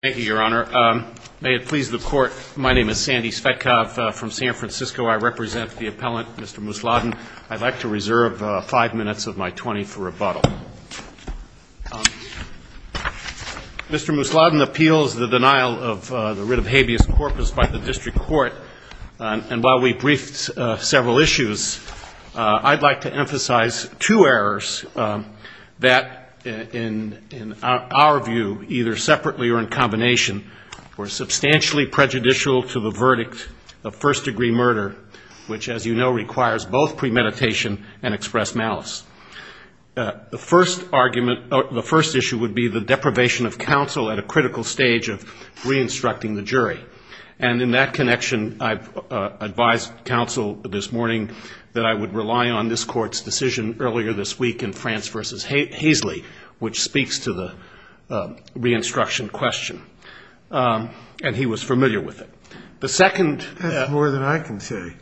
Thank you, Your Honor. May it please the Court, my name is Sandy Svetkov from San Francisco. I represent the appellant, Mr. Musladin. I'd like to reserve five minutes of my 20 for rebuttal. Mr. Musladin appeals the denial of the writ of habeas corpus by the District Court, and while we briefed several issues, I'd like to emphasize two errors that, in our view, either separately or in combination, were substantially prejudicial to the verdict of first-degree murder, which, as you know, requires both premeditation and expressed malice. The first argument or the first issue would be the deprivation of counsel at a critical stage of re-instructing the jury, and in that connection, I've advised counsel this morning that I would rely on this Court's decision earlier this week in France v. Haisley, which speaks to the re-instruction question, and he was familiar with it. The second — That's more than I can say.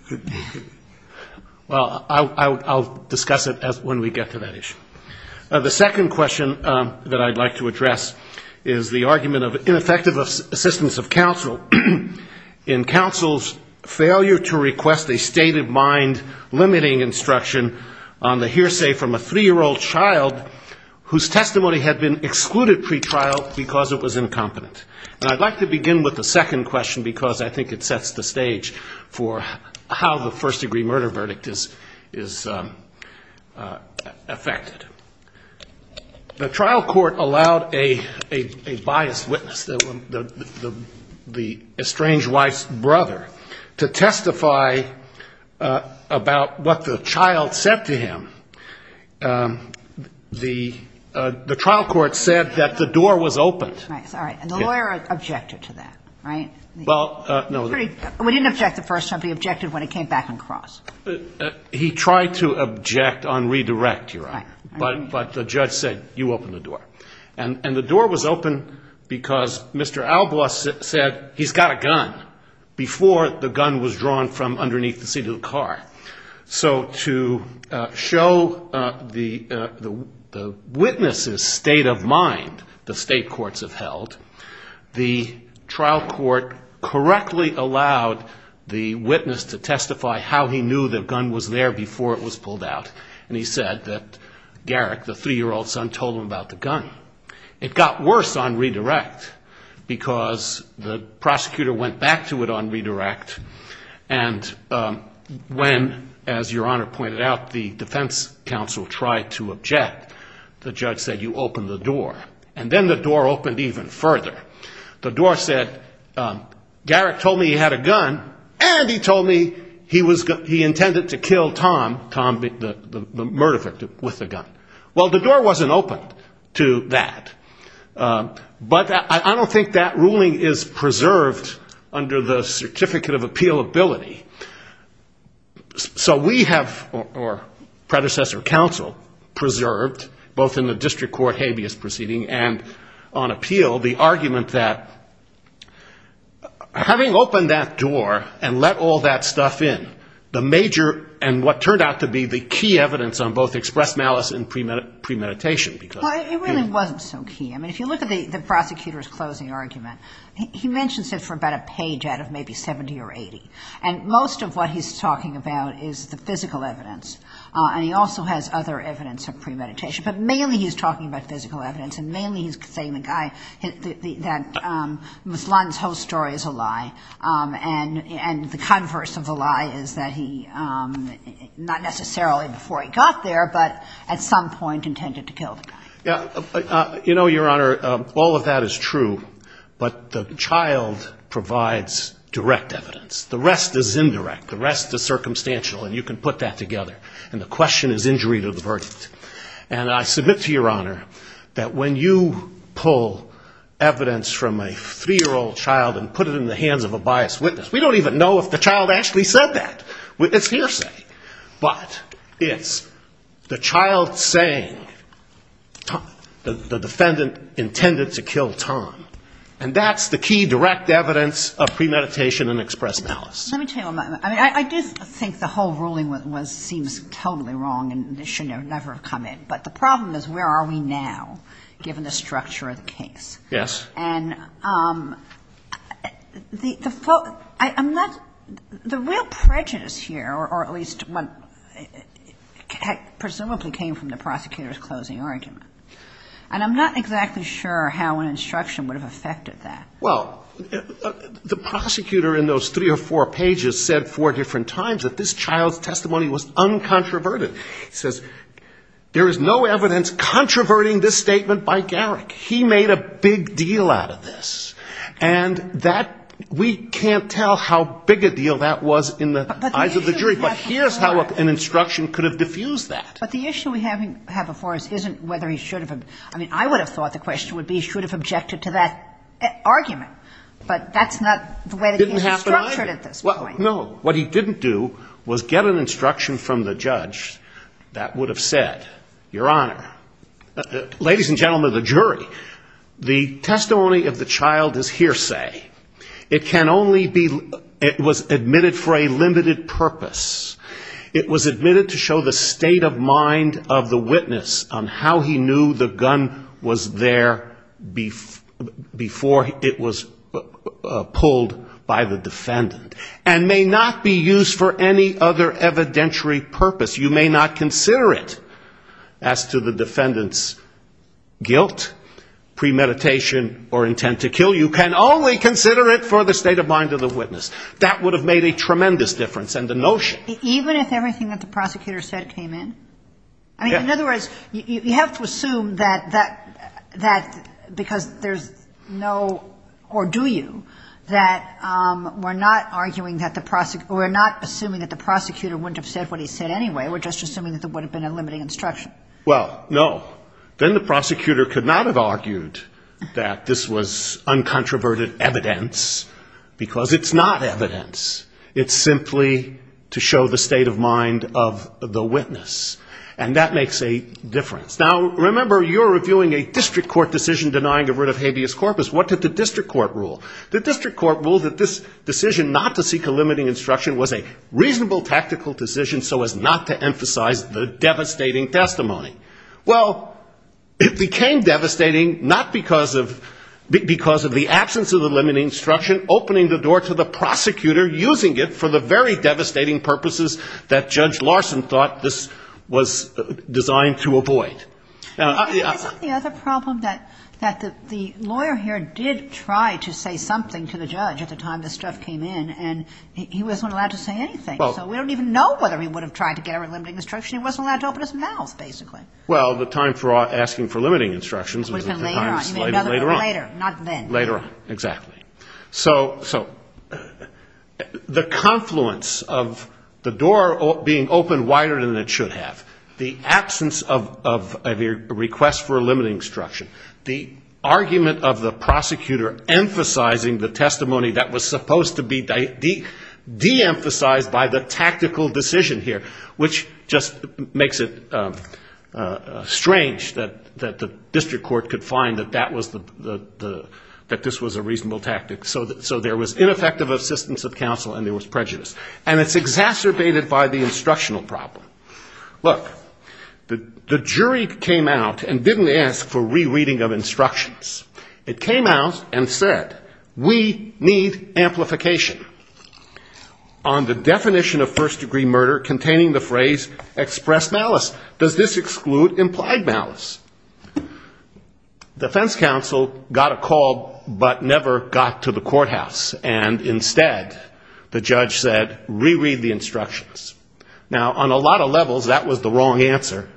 Well, I'll discuss it when we get to that issue. The second question that I'd like to address is the argument of ineffective assistance of counsel in counsel's failure to request a state-of-mind limiting instruction on the hearsay from a three-year-old child whose testimony had been excluded pretrial because it was incompetent. And I'd like to begin with the second question because I think it sets the stage for how the first-degree murder verdict is affected. The trial court allowed a biased witness, the estranged wife's brother, to testify about what the child said to him. The trial court said that the door was open. And the lawyer objected to that, right? Well, no. We didn't object the first time. We objected when it came back on cross. He tried to object on redirect, Your Honor. Right. But the judge said, you open the door. And the door was open because Mr. Albaugh said he's got a gun before the gun was drawn from underneath the seat of the car. So to show the witness's state of mind the state courts have held, the trial court correctly allowed the witness to testify how he knew the gun was there before it was pulled out. And he said that Garrick, the three-year-old son, told him about the gun. It got worse on redirect because the prosecutor went back to it on redirect. And when, as Your Honor pointed out, the defense counsel tried to object, the judge said, you open the door. And then the door opened even further. The door said, Garrick told me he had a gun and he told me he intended to kill Tom, the murder victim, with a gun. Well, the door wasn't open to that. But I don't think that ruling is preserved under the Certificate of Appealability. So we have, or predecessor counsel, preserved, both in the district court habeas proceeding and on appeal, the argument that having opened that door and let all that stuff in, the major and what turned out to be the key evidence on both express malice and premeditation. Well, it really wasn't so key. I mean, if you look at the prosecutor's closing argument, he mentions it for about a page out of maybe 70 or 80. And most of what he's talking about is the physical evidence. And he also has other evidence of premeditation. But mainly he's talking about physical evidence. And mainly he's saying the guy, that Ms. Lund's whole story is a lie. And the converse of the lie is that he, not necessarily before he got there, but at some point intended to kill the guy. You know, Your Honor, all of that is true. But the child provides direct evidence. The rest is indirect. The rest is circumstantial. And you can put that together. And the question is injury to the verdict. And I submit to Your Honor that when you pull evidence from a three-year-old child and put it in the hands of a biased witness, we don't even know if the child actually said that. It's hearsay. But it's the child saying the defendant intended to kill Tom. And that's the key direct evidence of premeditation and express malice. Let me tell you, I mean, I do think the whole ruling seems totally wrong and should never have come in. But the problem is where are we now, given the structure of the case? Yes. And the real prejudice here, or at least what presumably came from the prosecutor's closing argument, and I'm not exactly sure how an instruction would have affected that. Well, the prosecutor in those three or four pages said four different times that this child's testimony was uncontroverted. He says there is no evidence controverting this statement by Garrick. He made a big deal out of this. And that we can't tell how big a deal that was in the eyes of the jury. But here's how an instruction could have diffused that. But the issue we have before us isn't whether he should have. I mean, I would have thought the question would be he should have objected to that argument. But that's not the way the case is structured at this point. Didn't happen either. No. What he didn't do was get an instruction from the judge that would have said, Your Honor, ladies and gentlemen of the jury, the testimony of the child is hearsay. It can only be ‑‑ it was admitted for a limited purpose. It was admitted to show the state of mind of the witness on how he knew the gun was there before it was pulled by the defendant. And may not be used for any other evidentiary purpose. You may not consider it as to the defendant's guilt, premeditation, or intent to kill. You can only consider it for the state of mind of the witness. That would have made a tremendous difference. And the notion. Even if everything that the prosecutor said came in? Yeah. I mean, in other words, you have to assume that because there's no or do you, that we're not arguing that the ‑‑ we're not assuming that the prosecutor wouldn't have said what he said anyway. We're just assuming that there would have been a limiting instruction. Well, no. Then the prosecutor could not have argued that this was uncontroverted evidence because it's not evidence. It's simply to show the state of mind of the witness. And that makes a difference. Now, remember, you're reviewing a district court decision denying a writ of habeas corpus. What did the district court rule? The district court ruled that this decision not to seek a limiting instruction was a reasonable tactical decision so as not to emphasize the devastating testimony. Well, it became devastating not because of the absence of the limiting instruction, opening the door to the prosecutor using it for the very devastating purposes that Judge Larson thought this was designed to avoid. Isn't the other problem that the lawyer here did try to say something to the judge at the time this stuff came in, and he wasn't allowed to say anything? We don't even know whether he would have tried to get a limiting instruction. He wasn't allowed to open his mouth, basically. Well, the time for asking for limiting instructions was at the time slated later on. Not then. Later on, exactly. So the confluence of the door being opened wider than it should have, the absence of a request for a limiting instruction, the argument of the prosecutor emphasizing the testimony that was supposed to be deemphasized by the tactical decision here, which just makes it strange that the district court could find that that was the the that this was a reasonable tactic. So there was ineffective assistance of counsel and there was prejudice. And it's exacerbated by the instructional problem. Look, the jury came out and didn't ask for rereading of instructions. It came out and said, we need amplification on the definition of first degree murder containing the phrase express malice. Does this exclude implied malice? Defense counsel got a call but never got to the courthouse. And instead, the judge said, reread the instructions. Now, on a lot of levels, that was the wrong answer.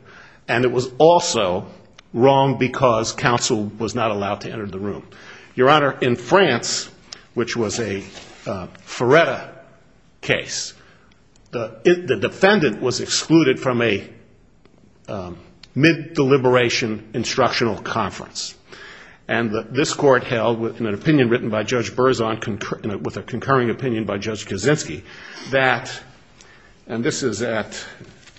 And it was also wrong because counsel was not allowed to enter the room. Your Honor, in France, which was a Feretta case, the defendant was excluded from a mid-deliberation instructional conference. And this Court held, in an opinion written by Judge Berzon, with a concurring opinion by Judge Kaczynski, that, and this is at,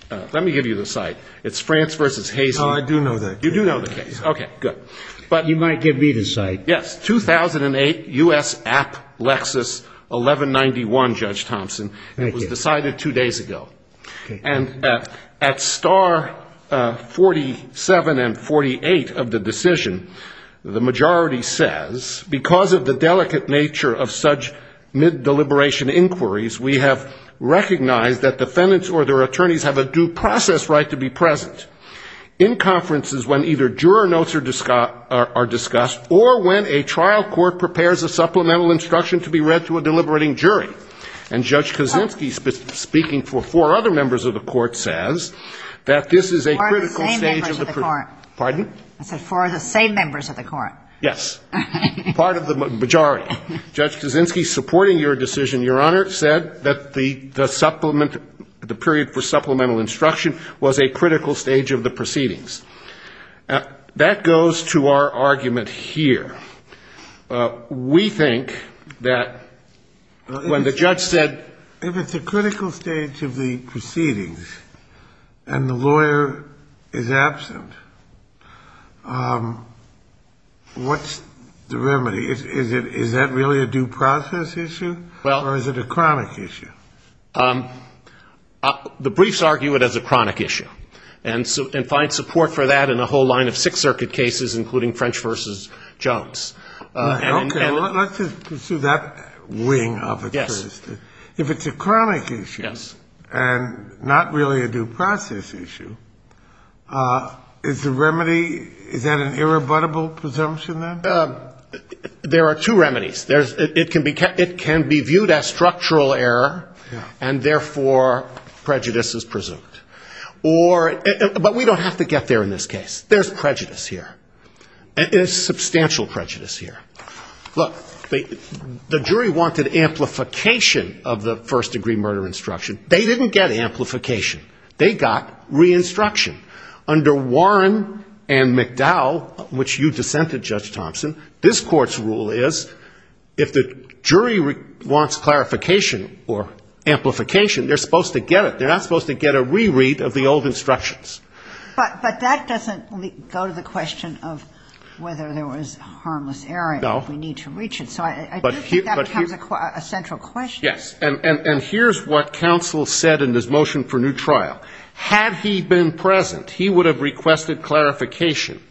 let me give you the site. It's France v. Hazen. No, I do know that. You do know the case. Okay, good. But you might give me the site. Yes. 2008, U.S. App, Lexis, 1191, Judge Thompson. Thank you. It was decided two days ago. Okay. And at star 47 and 48 of the decision, the majority says, because of the delicate nature of such mid-deliberation inquiries, we have recognized that defendants or their attorneys have a due process right to be present in conferences when either juror notes are discussed or when a trial court prepares a supplemental instruction to be read to a deliberating jury. And Judge Kaczynski, speaking for four other members of the Court, says that this is a critical stage of the pro- Four of the same members of the Court. Pardon? I said four of the same members of the Court. Yes. Part of the majority. Judge Kaczynski, supporting your decision, Your Honor, said that the supplement, the period for supplemental instruction was a critical stage of the proceedings. That goes to our argument here. We think that when the judge said If it's a critical stage of the proceedings and the lawyer is absent, what's the remedy? Is that really a due process issue or is it a chronic issue? The briefs argue it as a chronic issue and find support for that in a whole line of Sixth Circuit cases, including French v. Jones. Okay. Let's just pursue that wing of it first. Yes. If it's a chronic issue and not really a due process issue, is the remedy, is that an irrebuttable presumption then? There are two remedies. It can be viewed as structural error and, therefore, prejudice is presumed. But we don't have to get there in this case. There's prejudice here. There's substantial prejudice here. Look, the jury wanted amplification of the first-degree murder instruction. They didn't get amplification. They got re-instruction. Under Warren and McDowell, which you dissented, Judge Thompson, this court's rule is if the jury wants clarification or amplification, they're supposed to get it. They're not supposed to get a reread of the old instructions. But that doesn't go to the question of whether there was harmless error. No. We need to reach it. So I do think that becomes a central question. Yes. And here's what counsel said in his motion for new trial. Had he been present, he would have requested clarification.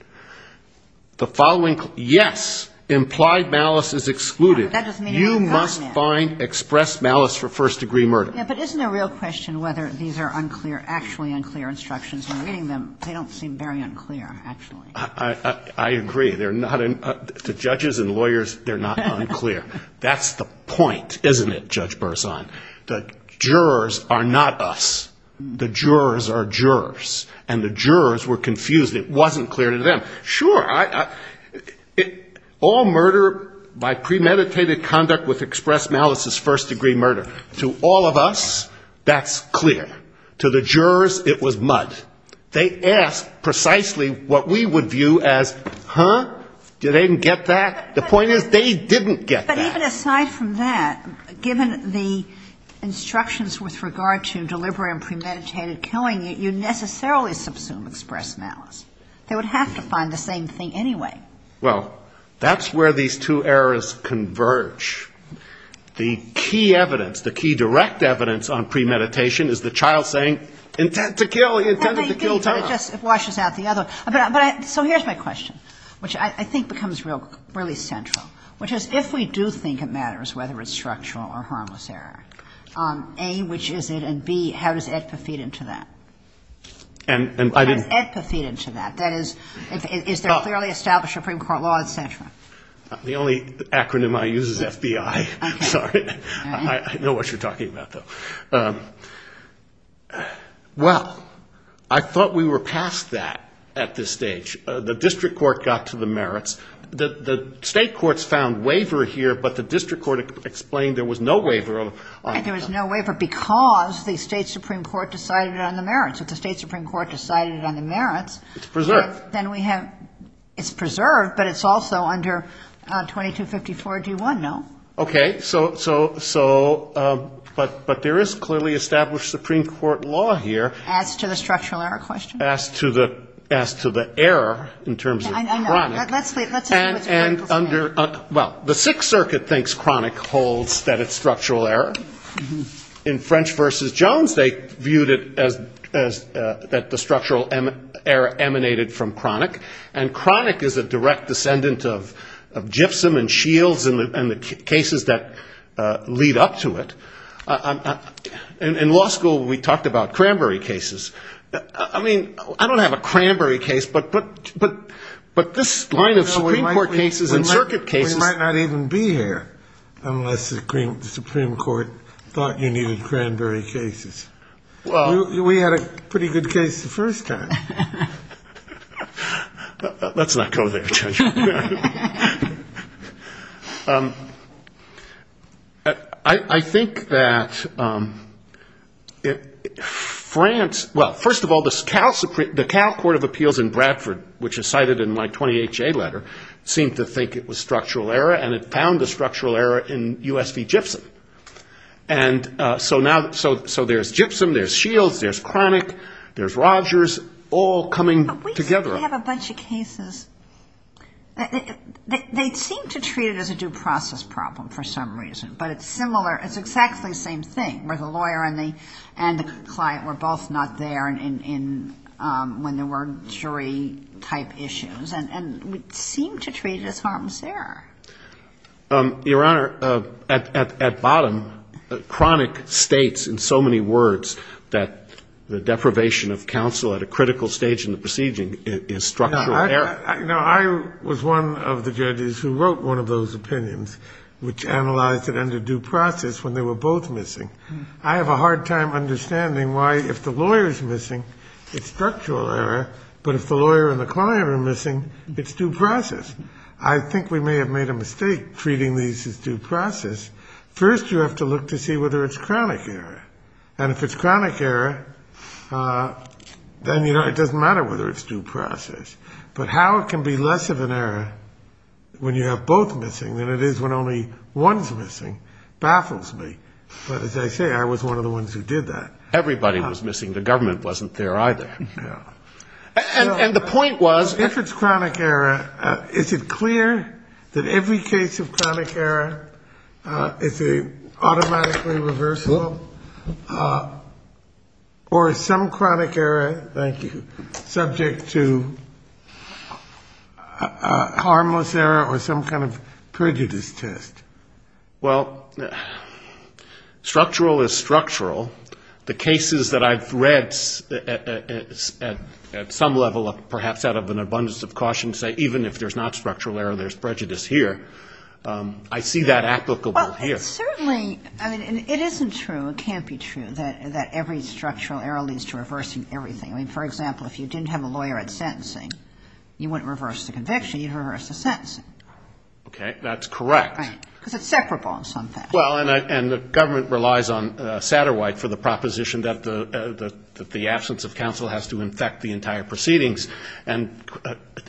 The following, yes, implied malice is excluded. You must find expressed malice for first-degree murder. Yeah, but isn't the real question whether these are unclear, actually unclear instructions? When reading them, they don't seem very unclear, actually. I agree. They're not unclear. To judges and lawyers, they're not unclear. That's the point, isn't it, Judge Burson? The jurors are not us. The jurors are jurors. And the jurors were confused. It wasn't clear to them. Sure, all murder by premeditated conduct with expressed malice is first-degree murder. To all of us, that's clear. To the jurors, it was mud. They asked precisely what we would view as, huh? Do they get that? The point is they didn't get that. But even aside from that, given the instructions with regard to deliberate and premeditated killing, you necessarily subsume expressed malice. They would have to find the same thing anyway. Well, that's where these two errors converge. The key evidence, the key direct evidence on premeditation is the child saying, intend to kill, he intended to kill Tom. It washes out the other. So here's my question, which I think becomes really central, which is if we do think it matters whether it's structural or harmless error, A, which is it, and B, how does AEDPA feed into that? How does AEDPA feed into that? That is, is there a clearly established Supreme Court law, et cetera? The only acronym I use is FBI. Sorry. I know what you're talking about, though. Well, I thought we were past that at this stage. The district court got to the merits. The State courts found waiver here, but the district court explained there was no waiver. There was no waiver because the State Supreme Court decided on the merits. If the State Supreme Court decided on the merits. It's preserved. Then we have, it's preserved, but it's also under 2254 D1, no? Okay. So, but there is clearly established Supreme Court law here. As to the error in terms of chronic. And under, well, the Sixth Circuit thinks chronic holds that it's structural error. In French v. Jones, they viewed it as that the structural error emanated from chronic. And chronic is a direct descendant of gypsum and shields and the cases that lead up to it. In law school, we talked about cranberry cases. I mean, I don't have a cranberry case, but this line of Supreme Court cases and circuit cases. We might not even be here unless the Supreme Court thought you needed cranberry cases. We had a pretty good case the first time. Let's not go there, Judge. I think that France, well, first of all, the Cal Court of Appeals in Bradford, which is cited in my 20HA letter, seemed to think it was structural error. And it found a structural error in U.S. v. gypsum. And so now, so there's gypsum, there's shields, there's chronic, there's Rogers, all coming together. But we have a bunch of cases. They seem to treat it as a due process problem for some reason. But it's similar. It's exactly the same thing, where the lawyer and the client were both not there when there were jury-type issues. And we seem to treat it as harm's error. Your Honor, at bottom, chronic states in so many words that the deprivation of counsel at a critical stage in the proceeding is structural error. No, I was one of the judges who wrote one of those opinions, which analyzed it under due process, when they were both missing. I have a hard time understanding why, if the lawyer is missing, it's structural error. But if the lawyer and the client are missing, it's due process. I think we may have made a mistake treating these as due process. First, you have to look to see whether it's chronic error. And if it's chronic error, then it doesn't matter whether it's due process. But how it can be less of an error when you have both missing than it is when only one is missing baffles me. But as I say, I was one of the ones who did that. Everybody was missing. The government wasn't there either. Yeah. And the point was... If it's chronic error, is it clear that every case of chronic error is an automatically reversal? Or is some chronic error, thank you, subject to harmless error or some kind of prejudice test? Well, structural is structural. The cases that I've read at some level, perhaps out of an abundance of caution, say even if there's not structural error, there's prejudice here, I see that applicable here. Well, certainly, I mean, it isn't true, it can't be true that every structural error leads to reversing everything. I mean, for example, if you didn't have a lawyer at sentencing, you wouldn't reverse the conviction, you'd reverse the sentencing. Okay. That's correct. Right. Because it's separable in some fashion. Well, and the government relies on Satterwhite for the proposition that the absence of counsel has to infect the entire proceedings. And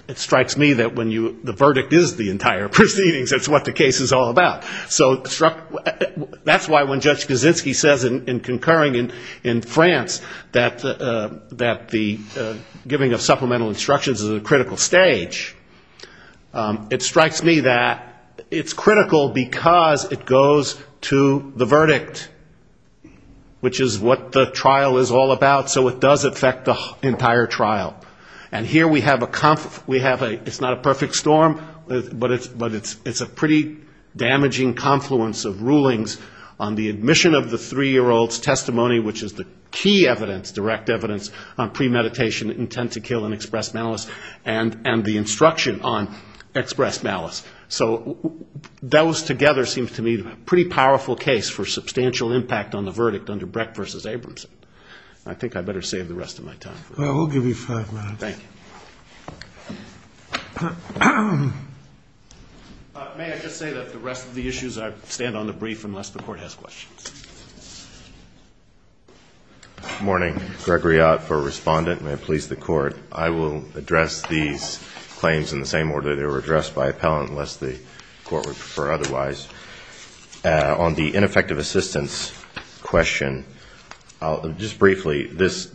it strikes me that when the verdict is the entire proceedings, that's what the case is all about. So that's why when Judge Kaczynski says in concurring in France that the giving of supplemental instructions is a critical stage, it strikes me that it's critical because it goes to the verdict, which is what the trial is all about, so it does affect the entire trial. And here we have a, it's not a perfect storm, but it's a pretty damaging confluence of rulings on the admission of the three-year-old's testimony, which is the key evidence, direct evidence on premeditation, intent to kill, and express malice, and the instruction on express malice. So those together seem to me a pretty powerful case for substantial impact on the verdict under Brecht v. Abramson. I think I'd better save the rest of my time. Well, we'll give you five minutes. Thank you. May I just say that the rest of the issues I stand on the brief unless the Court has questions. Good morning. Gregory Ott for Respondent. May it please the Court. I will address these claims in the same order they were addressed by appellant unless the Court would prefer otherwise. On the ineffective assistance question, just briefly, this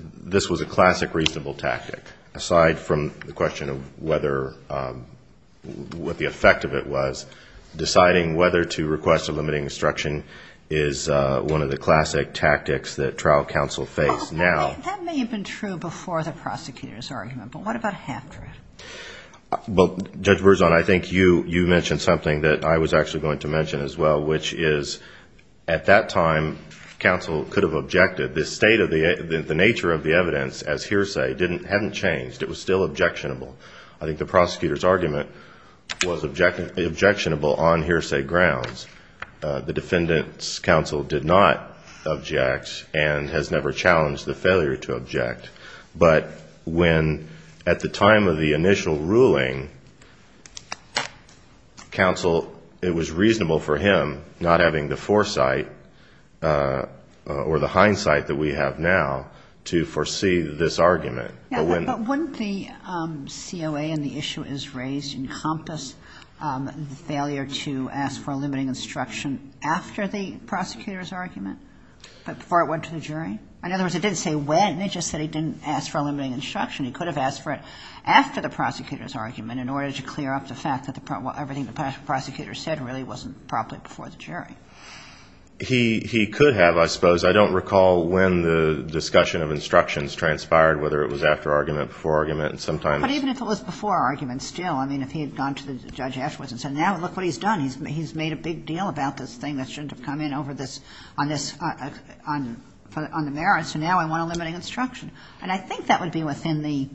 was a classic reasonable tactic. Aside from the question of whether, what the effect of it was, deciding whether to request a limiting instruction is one of the classic tactics that trial counsel face now. That may have been true before the prosecutor's argument, but what about after it? Well, Judge Berzon, I think you mentioned something that I was actually going to mention as well, which is at that time counsel could have objected. The nature of the evidence as hearsay hadn't changed. It was still objectionable. I think the prosecutor's argument was objectionable on hearsay grounds. The defendant's counsel did not object and has never challenged the failure to object. But when, at the time of the initial ruling, counsel, it was reasonable for him, not having the foresight or the hindsight that we have now, to foresee this argument. But wouldn't the COA and the issue as raised encompass the failure to ask for a limiting instruction after the prosecutor's argument, before it went to the jury? In other words, it didn't say when, it just said he didn't ask for a limiting instruction. He could have asked for it after the prosecutor's argument in order to clear up the fact that everything the prosecutor said really wasn't properly before the jury. He could have, I suppose. I don't recall when the discussion of instructions transpired, whether it was after argument, before argument, and sometimes. But even if it was before argument still, I mean, if he had gone to the judge afterwards and said, now look what he's done. He's made a big deal about this thing that shouldn't have come in over this, on this, on the merits. So now I want a limiting instruction. And I think that would be within the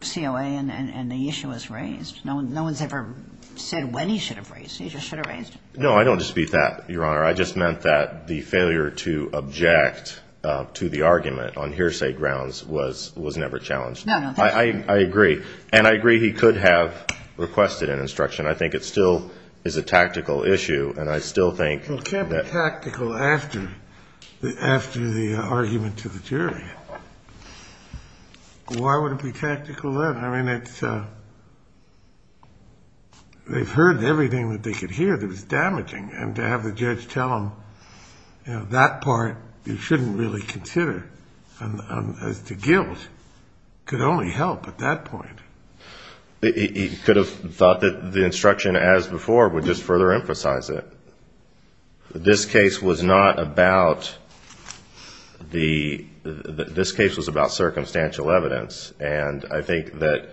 COA and the issue as raised. No one's ever said when he should have raised it. He just should have raised it. No, I don't dispute that, Your Honor. I just meant that the failure to object to the argument on hearsay grounds was never challenged. No, no, thank you. I agree. And I agree he could have requested an instruction. I think it still is a tactical issue, and I still think that. Well, it can't be tactical after the argument to the jury. Why would it be tactical then? I mean, they've heard everything that they could hear that was damaging. And to have the judge tell them, you know, that part you shouldn't really consider as to guilt could only help at that point. He could have thought that the instruction as before would just further emphasize it. This case was not about the ‑‑ this case was about circumstantial evidence. And I think that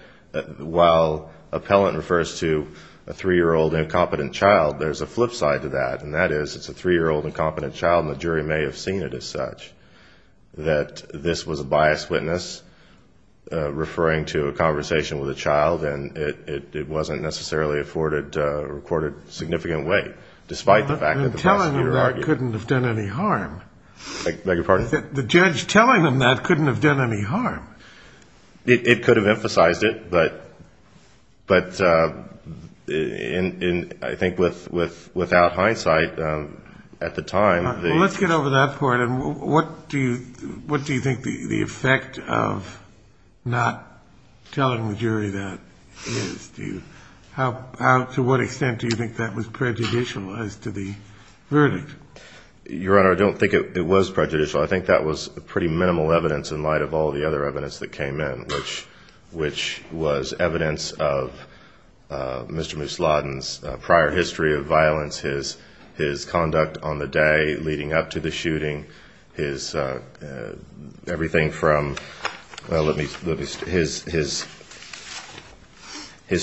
while appellant refers to a 3-year-old incompetent child, there's a flip side to that, and that is it's a 3-year-old incompetent child, and the jury may have seen it as such, that this was a biased witness referring to a conversation with a child, and it wasn't necessarily afforded a recorded significant weight, despite the fact that the prosecutor argued. Telling them that couldn't have done any harm. Beg your pardon? The judge telling them that couldn't have done any harm. It could have emphasized it, but I think without hindsight at the time ‑‑ Let's get over that part, and what do you think the effect of not telling the jury that is? To what extent do you think that was prejudicial as to the verdict? Your Honor, I don't think it was prejudicial. I think that was pretty minimal evidence in light of all the other evidence that came in, which was evidence of Mr. Musladin's prior history of violence, his conduct on the day leading up to the shooting, his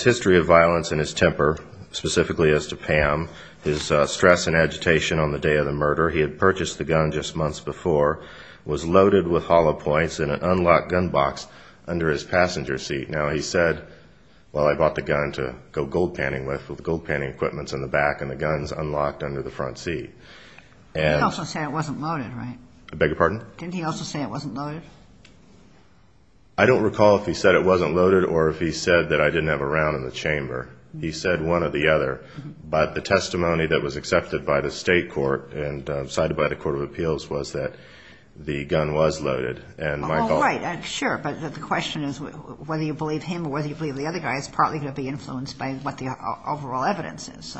history of violence and his temper, specifically as to Pam, his stress and agitation on the day of the murder. He had purchased the gun just months before, was loaded with hollow points in an unlocked gun box under his passenger seat. Now, he said, well, I bought the gun to go gold panning with, with gold panning equipment in the back, and the gun's unlocked under the front seat. He also said it wasn't loaded, right? Beg your pardon? Didn't he also say it wasn't loaded? I don't recall if he said it wasn't loaded or if he said that I didn't have a round in the chamber. He said one or the other. But the testimony that was accepted by the State Court and cited by the Court of Appeals was that the gun was loaded. All right. Sure. But the question is whether you believe him or whether you believe the other guy is probably going to be influenced by what the overall evidence is.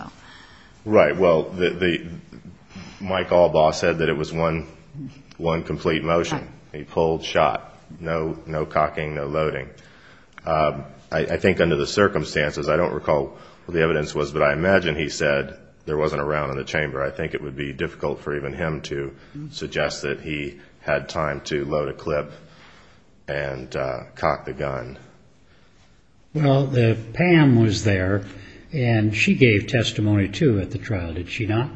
Right. Well, Mike Albaugh said that it was one complete motion. He pulled, shot. No cocking, no loading. I think under the circumstances, I don't recall what the evidence was, but I imagine he said there wasn't a round in the chamber. I think it would be difficult for even him to suggest that he had time to load a clip and cock the gun. Well, Pam was there, and she gave testimony too at the trial, did she not?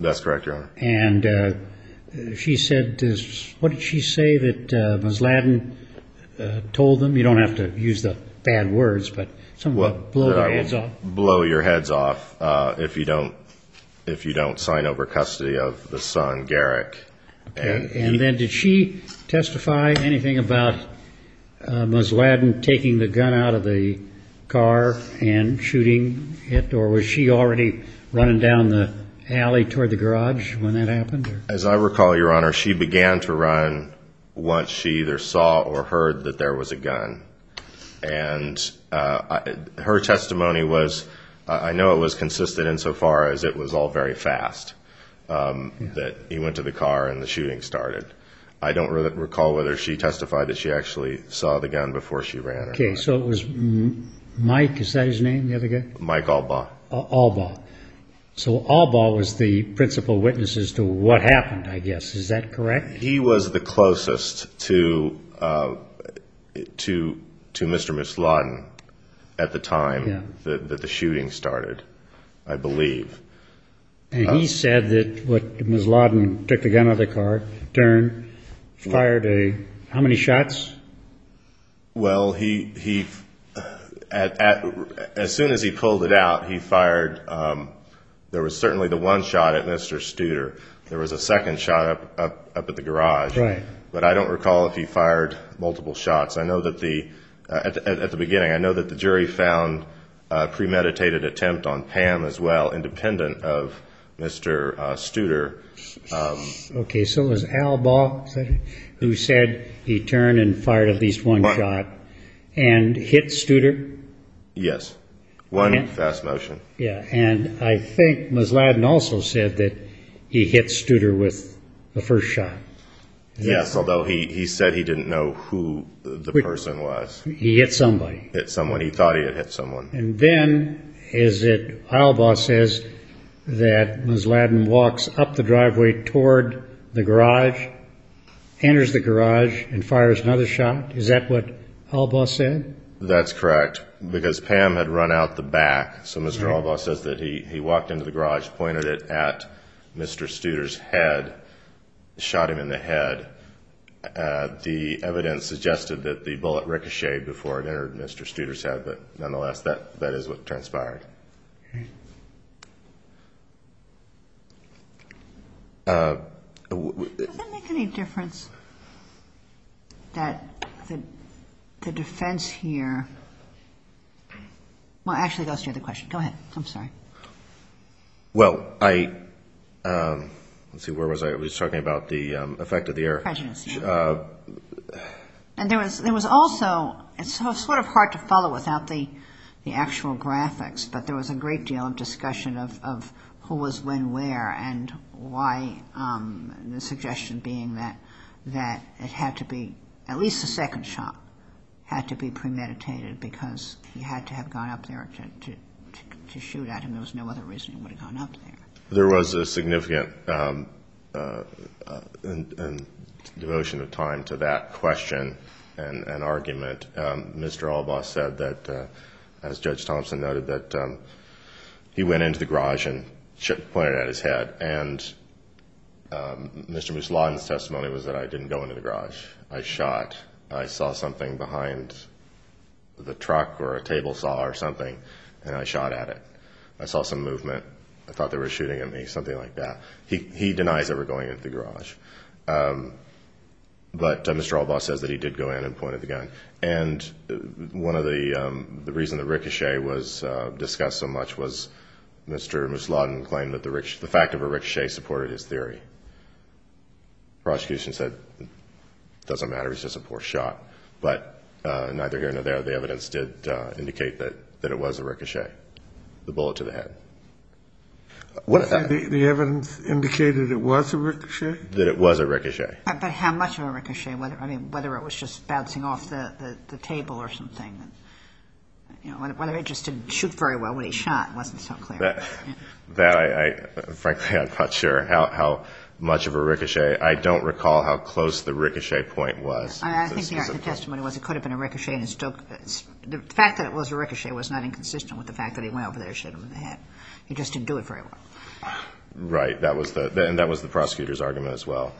That's correct, Your Honor. And she said, what did she say that Musladin told them? You don't have to use the bad words, but somewhat blow their heads off. Blow your heads off if you don't sign over custody of the son, Garrick. And then did she testify anything about Musladin taking the gun out of the car and shooting it, or was she already running down the alley toward the garage when that happened? As I recall, Your Honor, she began to run once she either saw or heard that there was a gun. And her testimony was, I know it was consistent insofar as it was all very fast, that he went to the car and the shooting started. I don't recall whether she testified that she actually saw the gun before she ran. Okay, so it was Mike, is that his name, the other guy? Mike Albaugh. Albaugh. So Albaugh was the principal witness as to what happened, I guess. Is that correct? He was the closest to Mr. Musladin at the time that the shooting started, I believe. And he said that Musladin took the gun out of the car, turned, fired a how many shots? Well, as soon as he pulled it out, he fired, there was certainly the one shot at Mr. Studer. There was a second shot up at the garage. But I don't recall if he fired multiple shots. At the beginning, I know that the jury found a premeditated attempt on Pam as well, independent of Mr. Studer. Okay, so it was Albaugh who said he turned and fired at least one shot and hit Studer? Yes, one fast motion. And I think Musladin also said that he hit Studer with the first shot. Yes, although he said he didn't know who the person was. He hit somebody. He hit someone, he thought he had hit someone. And then Albaugh says that Musladin walks up the driveway toward the garage, enters the garage, and fires another shot. Is that what Albaugh said? That's correct, because Pam had run out the back. So Mr. Albaugh says that he walked into the garage, pointed it at Mr. Studer's head, shot him in the head. The evidence suggested that the bullet ricocheted before it entered Mr. Studer's head. But nonetheless, that is what transpired. Does it make any difference that the defense here – well, actually, that's the other question. Go ahead. I'm sorry. Well, I – let's see, where was I? I was talking about the effect of the air. Prejudice, yes. And there was also – it's sort of hard to follow without the actual graphics, but there was a great deal of discussion of who was when where and why, the suggestion being that it had to be – at least the second shot had to be premeditated because he had to have gone up there to shoot at him. There was no other reason he would have gone up there. There was a significant devotion of time to that question and argument. Mr. Albaugh said that, as Judge Thompson noted, that he went into the garage and pointed it at his head. And Mr. Mishladen's testimony was that I didn't go into the garage. I shot. I saw something behind the truck or a table saw or something, and I shot at it. I saw some movement. I thought they were shooting at me, something like that. He denies ever going into the garage. But Mr. Albaugh says that he did go in and pointed the gun. And one of the reasons the ricochet was discussed so much was Mr. Mishladen claimed that the fact of a ricochet supported his theory. Prosecution said it doesn't matter. It's just a poor shot. But neither here nor there, the evidence did indicate that it was a ricochet, the bullet to the head. The evidence indicated it was a ricochet? That it was a ricochet. But how much of a ricochet? I mean, whether it was just bouncing off the table or something. Whether it just didn't shoot very well when he shot wasn't so clear. Frankly, I'm not sure how much of a ricochet. I don't recall how close the ricochet point was. I think the argument in the testimony was it could have been a ricochet. The fact that it was a ricochet was not inconsistent with the fact that he went over there and shot him in the head. He just didn't do it very well. Right. And that was the prosecutor's argument as well.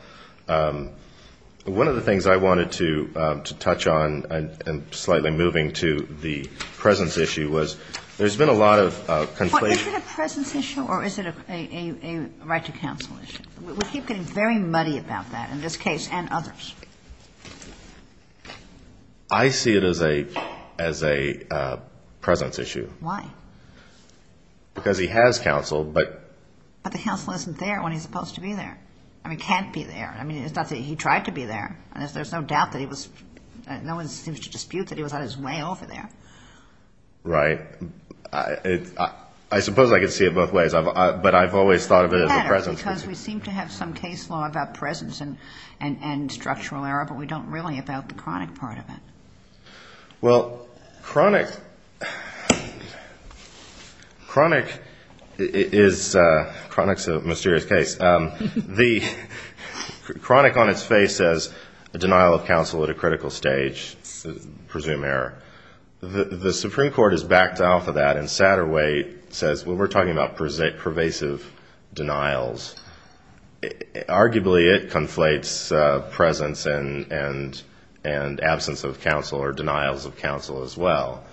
One of the things I wanted to touch on, and slightly moving to the presence issue, was there's been a lot of conflict. Is it a presence issue or is it a right to counsel issue? We keep getting very muddy about that in this case and others. I see it as a presence issue. Why? Because he has counsel, but. But the counsel isn't there when he's supposed to be there. I mean, can't be there. I mean, it's not that he tried to be there. There's no doubt that he was. No one seems to dispute that he was on his way over there. Right. I suppose I could see it both ways, but I've always thought of it as a presence issue. Because we seem to have some case law about presence and structural error, but we don't really about the chronic part of it. Well, chronic is a mysterious case. The chronic on its face says a denial of counsel at a critical stage, presumed error. The Supreme Court has backed off of that, and Satterwhite says when we're talking about pervasive denials, arguably it conflates presence and absence of counsel or denials of counsel as well.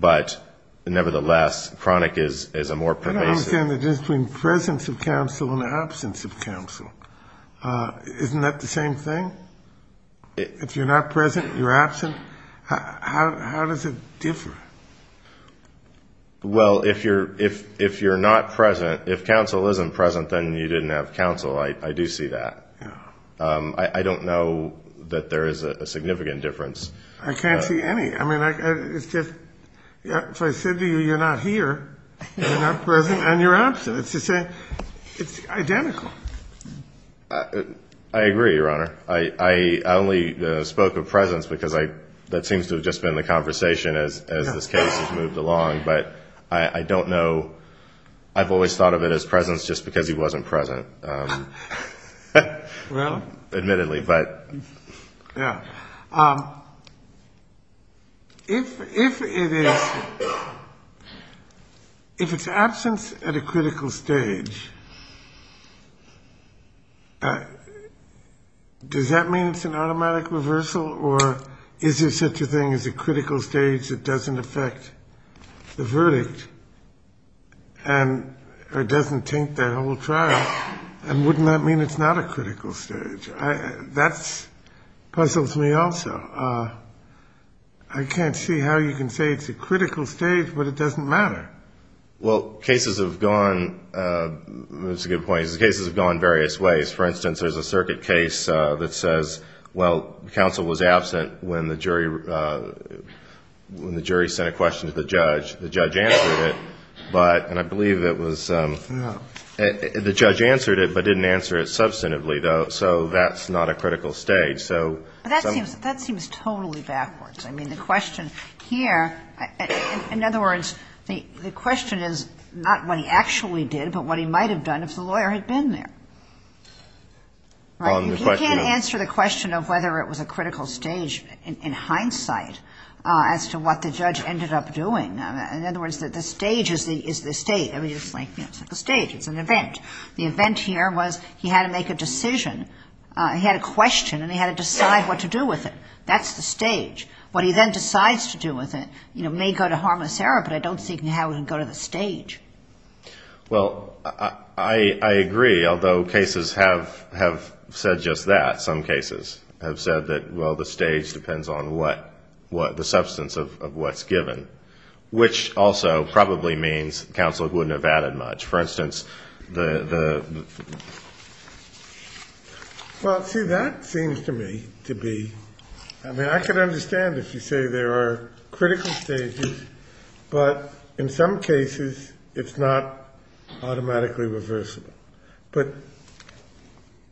But, nevertheless, chronic is a more pervasive. I don't understand the difference between presence of counsel and absence of counsel. Isn't that the same thing? If you're not present, you're absent. How does it differ? Well, if you're not present, if counsel isn't present, then you didn't have counsel. I do see that. I don't know that there is a significant difference. I can't see any. I mean, if I said to you you're not here, you're not present, and you're absent. It's identical. I agree, Your Honor. I only spoke of presence because that seems to have just been the conversation as this case has moved along. But I don't know. I've always thought of it as presence just because he wasn't present, admittedly. Yeah. If it is absence at a critical stage, does that mean it's an automatic reversal? Or is there such a thing as a critical stage that doesn't affect the verdict or doesn't taint that whole trial? And wouldn't that mean it's not a critical stage? That puzzles me also. I can't see how you can say it's a critical stage, but it doesn't matter. Well, cases have gone. That's a good point. Cases have gone various ways. For instance, there's a circuit case that says, well, counsel was absent when the jury sent a question to the judge. The judge answered it. And I believe it was the judge answered it but didn't answer it substantively, though, so that's not a critical stage. But that seems totally backwards. I mean, the question here, in other words, the question is not what he actually did but what he might have done if the lawyer had been there. You can't answer the question of whether it was a critical stage in hindsight as to what the judge ended up doing. In other words, the stage is the state. I mean, it's like the stage. It's an event. The event here was he had to make a decision. He had a question, and he had to decide what to do with it. That's the stage. What he then decides to do with it may go to harmless error, but I don't see how it can go to the stage. Well, I agree, although cases have said just that. Some cases have said that, well, the stage depends on what the substance of what's given, which also probably means counsel wouldn't have added much. Well, see, that seems to me to be, I mean, I could understand if you say there are critical stages, but in some cases, it's not automatically reversible. But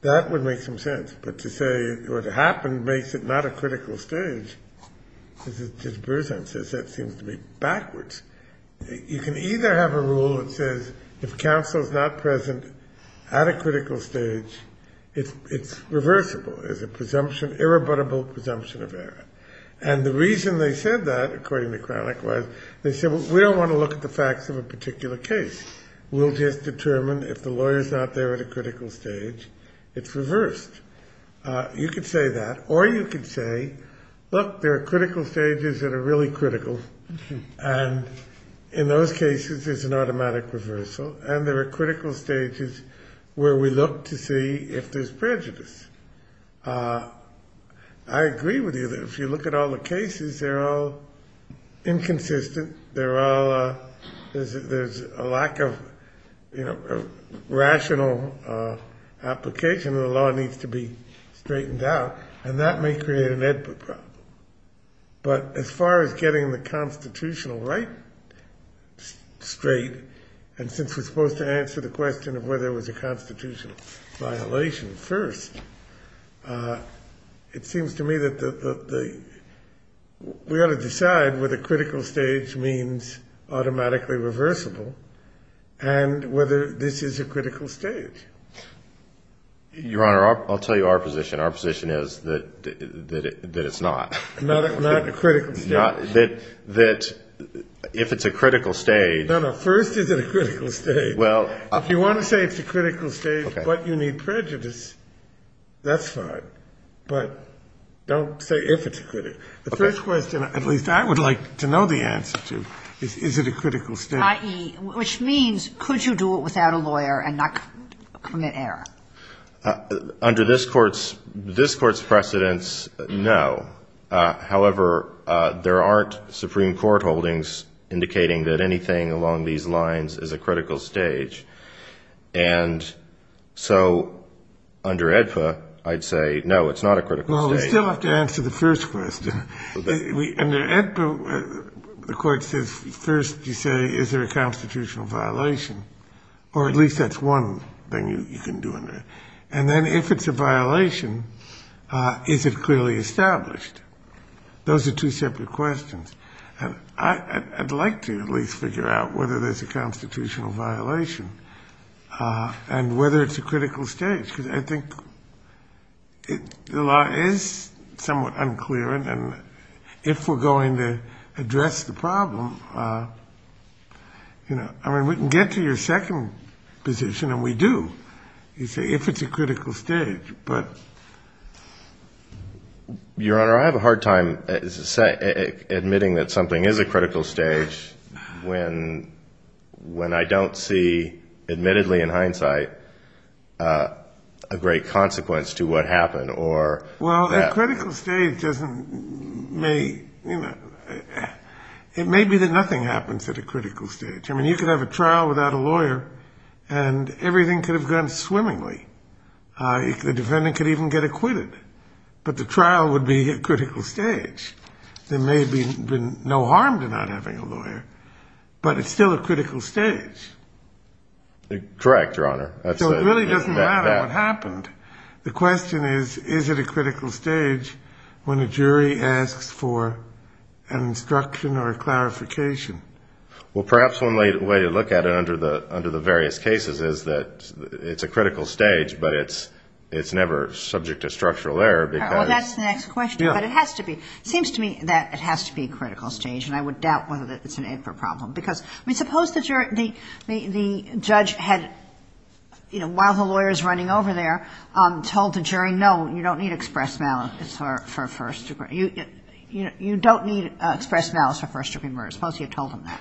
that would make some sense. But to say what happened makes it not a critical stage. As Bruce Hunt says, that seems to be backwards. You can either have a rule that says if counsel's not present at a critical stage, it's reversible. There's a presumption, irrebuttable presumption of error. And the reason they said that, according to Cranach, was they said, well, we don't want to look at the facts of a particular case. We'll just determine if the lawyer's not there at a critical stage, it's reversed. You could say that. Or you could say, look, there are critical stages that are really critical. And in those cases, it's an automatic reversal. And there are critical stages where we look to see if there's prejudice. I agree with you that if you look at all the cases, they're all inconsistent. There's a lack of rational application. The law needs to be straightened out. And that may create an input problem. But as far as getting the constitutional right straight, and since we're supposed to answer the question of whether it was a constitutional violation first, it seems to me that we ought to decide whether critical stage means automatically reversible and whether this is a critical stage. Your Honor, I'll tell you our position. Our position is that it's not. Not a critical stage. Not that if it's a critical stage. No, no. First, is it a critical stage? If you want to say it's a critical stage, but you need prejudice, that's fine. But don't say if it's a critical stage. The first question, at least I would like to know the answer to, is it a critical stage? I.e., which means, could you do it without a lawyer and not commit error? Under this Court's precedence, no. However, there aren't Supreme Court holdings indicating that anything along these lines is a critical stage. And so under AEDPA, I'd say, no, it's not a critical stage. Well, we still have to answer the first question. Under AEDPA, the Court says, first, you say, is there a constitutional violation? Or at least that's one thing you can do under it. And then if it's a violation, is it clearly established? Those are two separate questions. And I'd like to at least figure out whether there's a constitutional violation and whether it's a critical stage. Because I think the law is somewhat unclear. And if we're going to address the problem, I mean, we can get to your second position, and we do, if it's a critical stage. Your Honor, I have a hard time admitting that something is a critical stage when I don't see, admittedly in hindsight, a great consequence to what happened. Well, a critical stage doesn't make, it may be that nothing happens at a critical stage. I mean, you could have a trial without a lawyer, and everything could have gone swimmingly. The defendant could even get acquitted. But the trial would be a critical stage. There may have been no harm to not having a lawyer, but it's still a critical stage. Correct, Your Honor. So it really doesn't matter what happened. The question is, is it a critical stage when a jury asks for an instruction or a clarification? Well, perhaps one way to look at it under the various cases is that it's a critical stage, but it's never subject to structural error. Well, that's the next question. But it has to be. It seems to me that it has to be a critical stage, and I would doubt whether it's an improper problem. I mean, suppose the judge had, you know, while the lawyer is running over there, told the jury, no, you don't need express malice for first-degree murder. Suppose you told them that.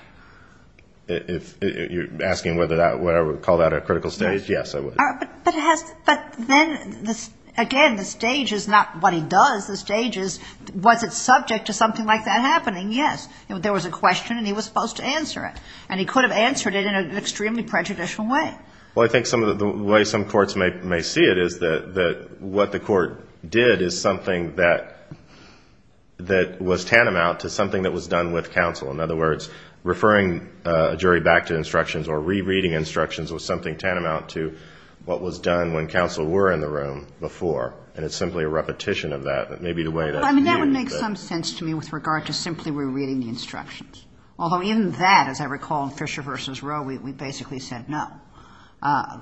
If you're asking whether I would call that a critical stage, yes, I would. But then, again, the stage is not what he does. The stage is, was it subject to something like that happening? Yes. There was a question, and he was supposed to answer it, and he could have answered it in an extremely prejudicial way. Well, I think some of the way some courts may see it is that what the court did is something that was tantamount to something that was done with counsel. In other words, referring a jury back to instructions or rereading instructions was something tantamount to what was done when counsel were in the room before, and it's simply a repetition of that. Well, I mean, that would make some sense to me with regard to simply rereading the instructions, although even that, as I recall in Fisher v. Roe, we basically said no.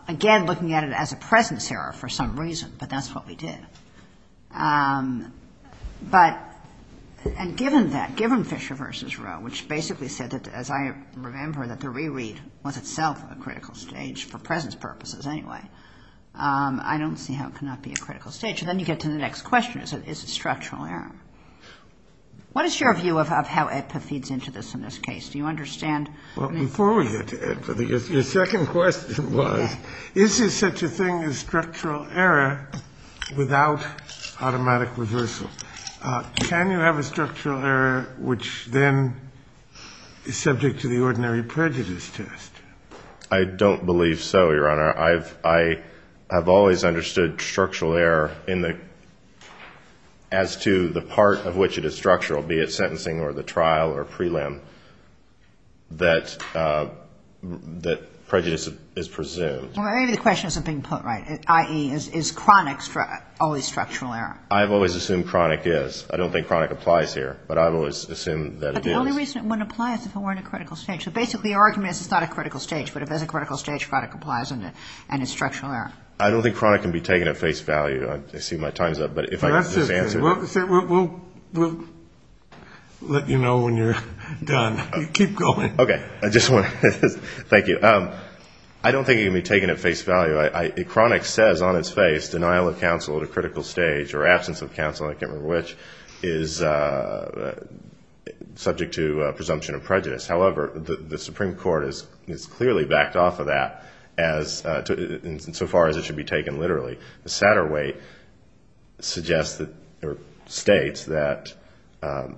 Again, looking at it as a presence error for some reason, but that's what we did. But given that, given Fisher v. Roe, which basically said that, as I remember, that the reread was itself a critical stage, for presence purposes anyway, I don't see how it could not be a critical stage. And then you get to the next question, is it structural error? What is your view of how AEDPA feeds into this in this case? Do you understand? Well, before we get to AEDPA, your second question was, is there such a thing as structural error without automatic reversal? Can you have a structural error which then is subject to the ordinary prejudice test? I don't believe so, Your Honor. I have always understood structural error as to the part of which it is structural, be it sentencing or the trial or prelim, that prejudice is presumed. Well, maybe the question isn't being put right, i.e., is chronic always structural error? I've always assumed chronic is. I don't think chronic applies here, but I've always assumed that it is. But the only reason it wouldn't apply is if it weren't a critical stage. So basically your argument is it's not a critical stage, but if there's a critical stage, chronic applies and it's structural error. I don't think chronic can be taken at face value. I see my time's up, but if I could just answer. We'll let you know when you're done. Keep going. Okay. Thank you. I don't think it can be taken at face value. Chronic says on its face denial of counsel at a critical stage or absence of counsel, I can't remember which, is subject to presumption of prejudice. However, the Supreme Court has clearly backed off of that insofar as it should be taken literally. The Satterweight states that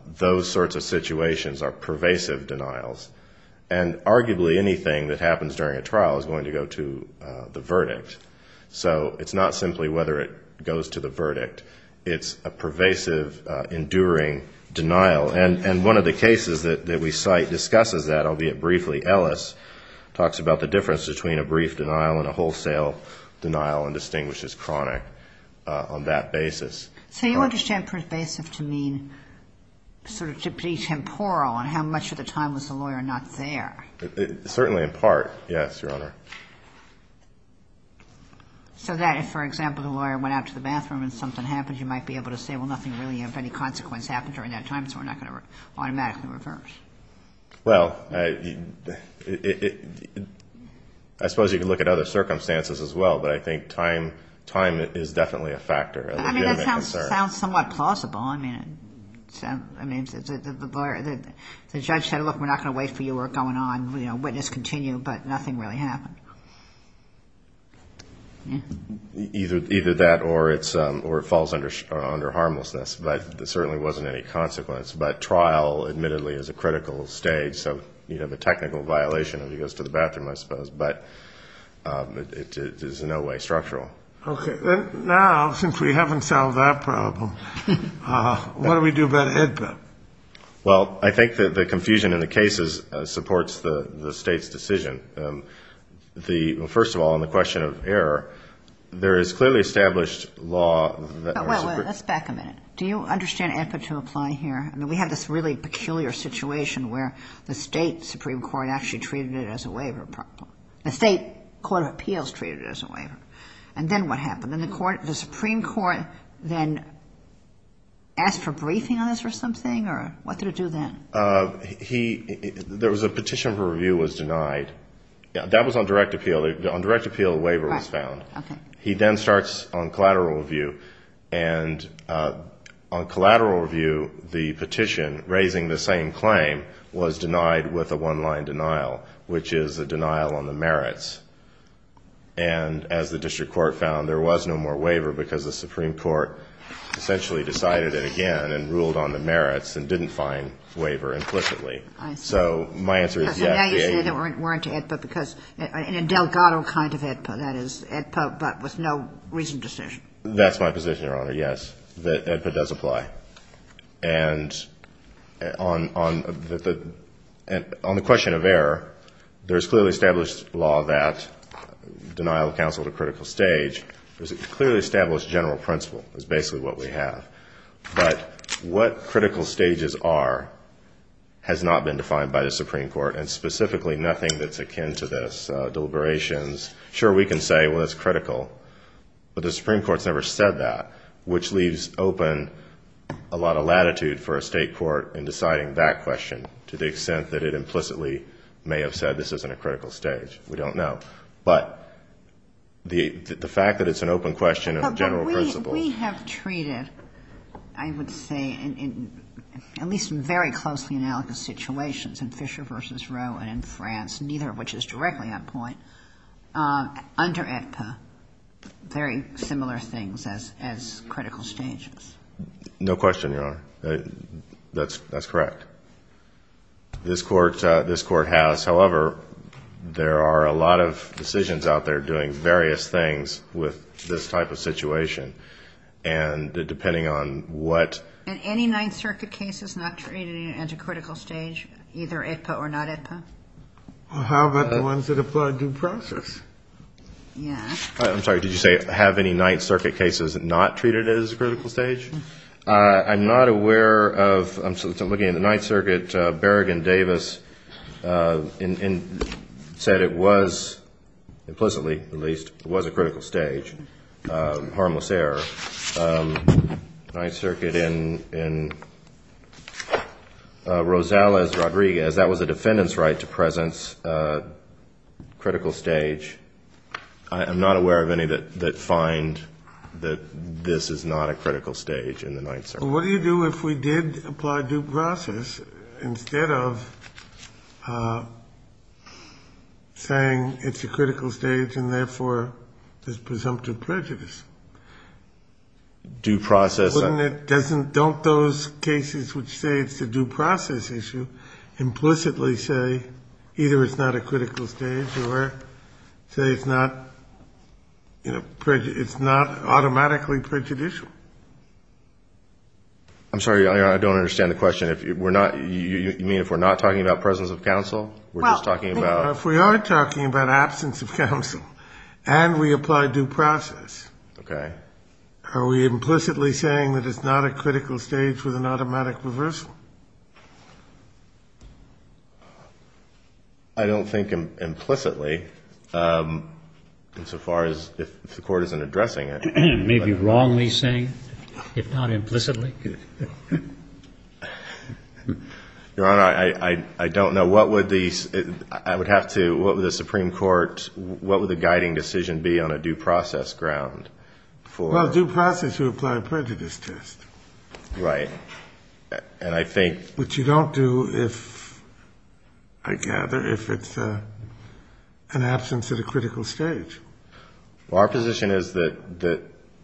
those sorts of situations are pervasive denials, and arguably anything that happens during a trial is going to go to the verdict. So it's not simply whether it goes to the verdict. It's a pervasive, enduring denial. And one of the cases that we cite discusses that, albeit briefly. Ellis talks about the difference between a brief denial and a wholesale denial and distinguishes chronic on that basis. So you understand pervasive to mean sort of to be temporal on how much of the time was the lawyer not there? Certainly in part, yes, Your Honor. So that if, for example, the lawyer went out to the bathroom and something happened, you might be able to say, well, nothing really of any consequence happened during that time, so we're not going to automatically reverse. Well, I suppose you could look at other circumstances as well, but I think time is definitely a factor. I mean, that sounds somewhat plausible. I mean, the judge said, look, we're not going to wait for you, we're going on, you know, witness continue, but nothing really happened. Either that or it falls under harmlessness. But there certainly wasn't any consequence. But trial, admittedly, is a critical stage. So you'd have a technical violation if he goes to the bathroom, I suppose. But it is in no way structural. Okay. Now, since we haven't solved that problem, what do we do about AEDPA? Well, I think the confusion in the cases supports the State's decision. First of all, on the question of error, there is clearly established law. Well, let's back a minute. Do you understand AEDPA to apply here? I mean, we have this really peculiar situation where the State Supreme Court actually treated it as a waiver problem. The State Court of Appeals treated it as a waiver. And then what happened? Did the Supreme Court then ask for briefing on this or something, or what did it do then? There was a petition for review was denied. That was on direct appeal. On direct appeal, a waiver was found. He then starts on collateral review. And on collateral review, the petition raising the same claim was denied with a one-line denial, which is a denial on the merits. And as the district court found, there was no more waiver because the Supreme Court essentially decided it again and ruled on the merits and didn't find waiver implicitly. I see. So my answer is yes, the AEDPA. So now you say they weren't to AEDPA because in a Delgado kind of AEDPA, that is, AEDPA but with no reasoned decision. That's my position, Your Honor, yes, that AEDPA does apply. And on the question of error, there is clearly established law that denial of counsel at a critical stage. There's a clearly established general principle is basically what we have. But what critical stages are has not been defined by the Supreme Court and specifically nothing that's akin to this deliberations. Sure, we can say, well, it's critical, but the Supreme Court has never said that, which leaves open a lot of latitude for a state court in deciding that question to the extent that it implicitly may have said this isn't a critical stage. We don't know. But the fact that it's an open question and a general principle. We have treated, I would say, at least in very closely analogous situations in Fisher v. Rowe and in France, neither of which is directly on point, under AEDPA, very similar things as critical stages. No question, Your Honor. That's correct. This Court has. However, there are a lot of decisions out there doing various things with this type of situation. And depending on what. And any Ninth Circuit cases not treated as a critical stage, either AEDPA or not AEDPA? How about the ones that apply due process? Yeah. I'm sorry, did you say have any Ninth Circuit cases not treated as a critical stage? I'm not aware of. I'm looking at the Ninth Circuit. Berrigan Davis said it was implicitly, at least, it was a critical stage, harmless error. Ninth Circuit in Rosales Rodriguez, that was a defendant's right to presence, critical stage. I'm not aware of any that find that this is not a critical stage in the Ninth Circuit. What do you do if we did apply due process instead of saying it's a critical stage and, therefore, there's presumptive prejudice? Due process. Don't those cases which say it's a due process issue implicitly say either it's not a critical stage or say it's not automatically prejudicial? I'm sorry, I don't understand the question. You mean if we're not talking about presence of counsel? If we are talking about absence of counsel and we apply due process. Okay. Are we implicitly saying that it's not a critical stage with an automatic reversal? I don't think implicitly insofar as if the court isn't addressing it. Maybe wrongly saying, if not implicitly? Your Honor, I don't know. What would the Supreme Court, what would the guiding decision be on a due process ground? Well, due process would apply a prejudice test. Right. Which you don't do, I gather, if it's an absence at a critical stage. Well, our position is that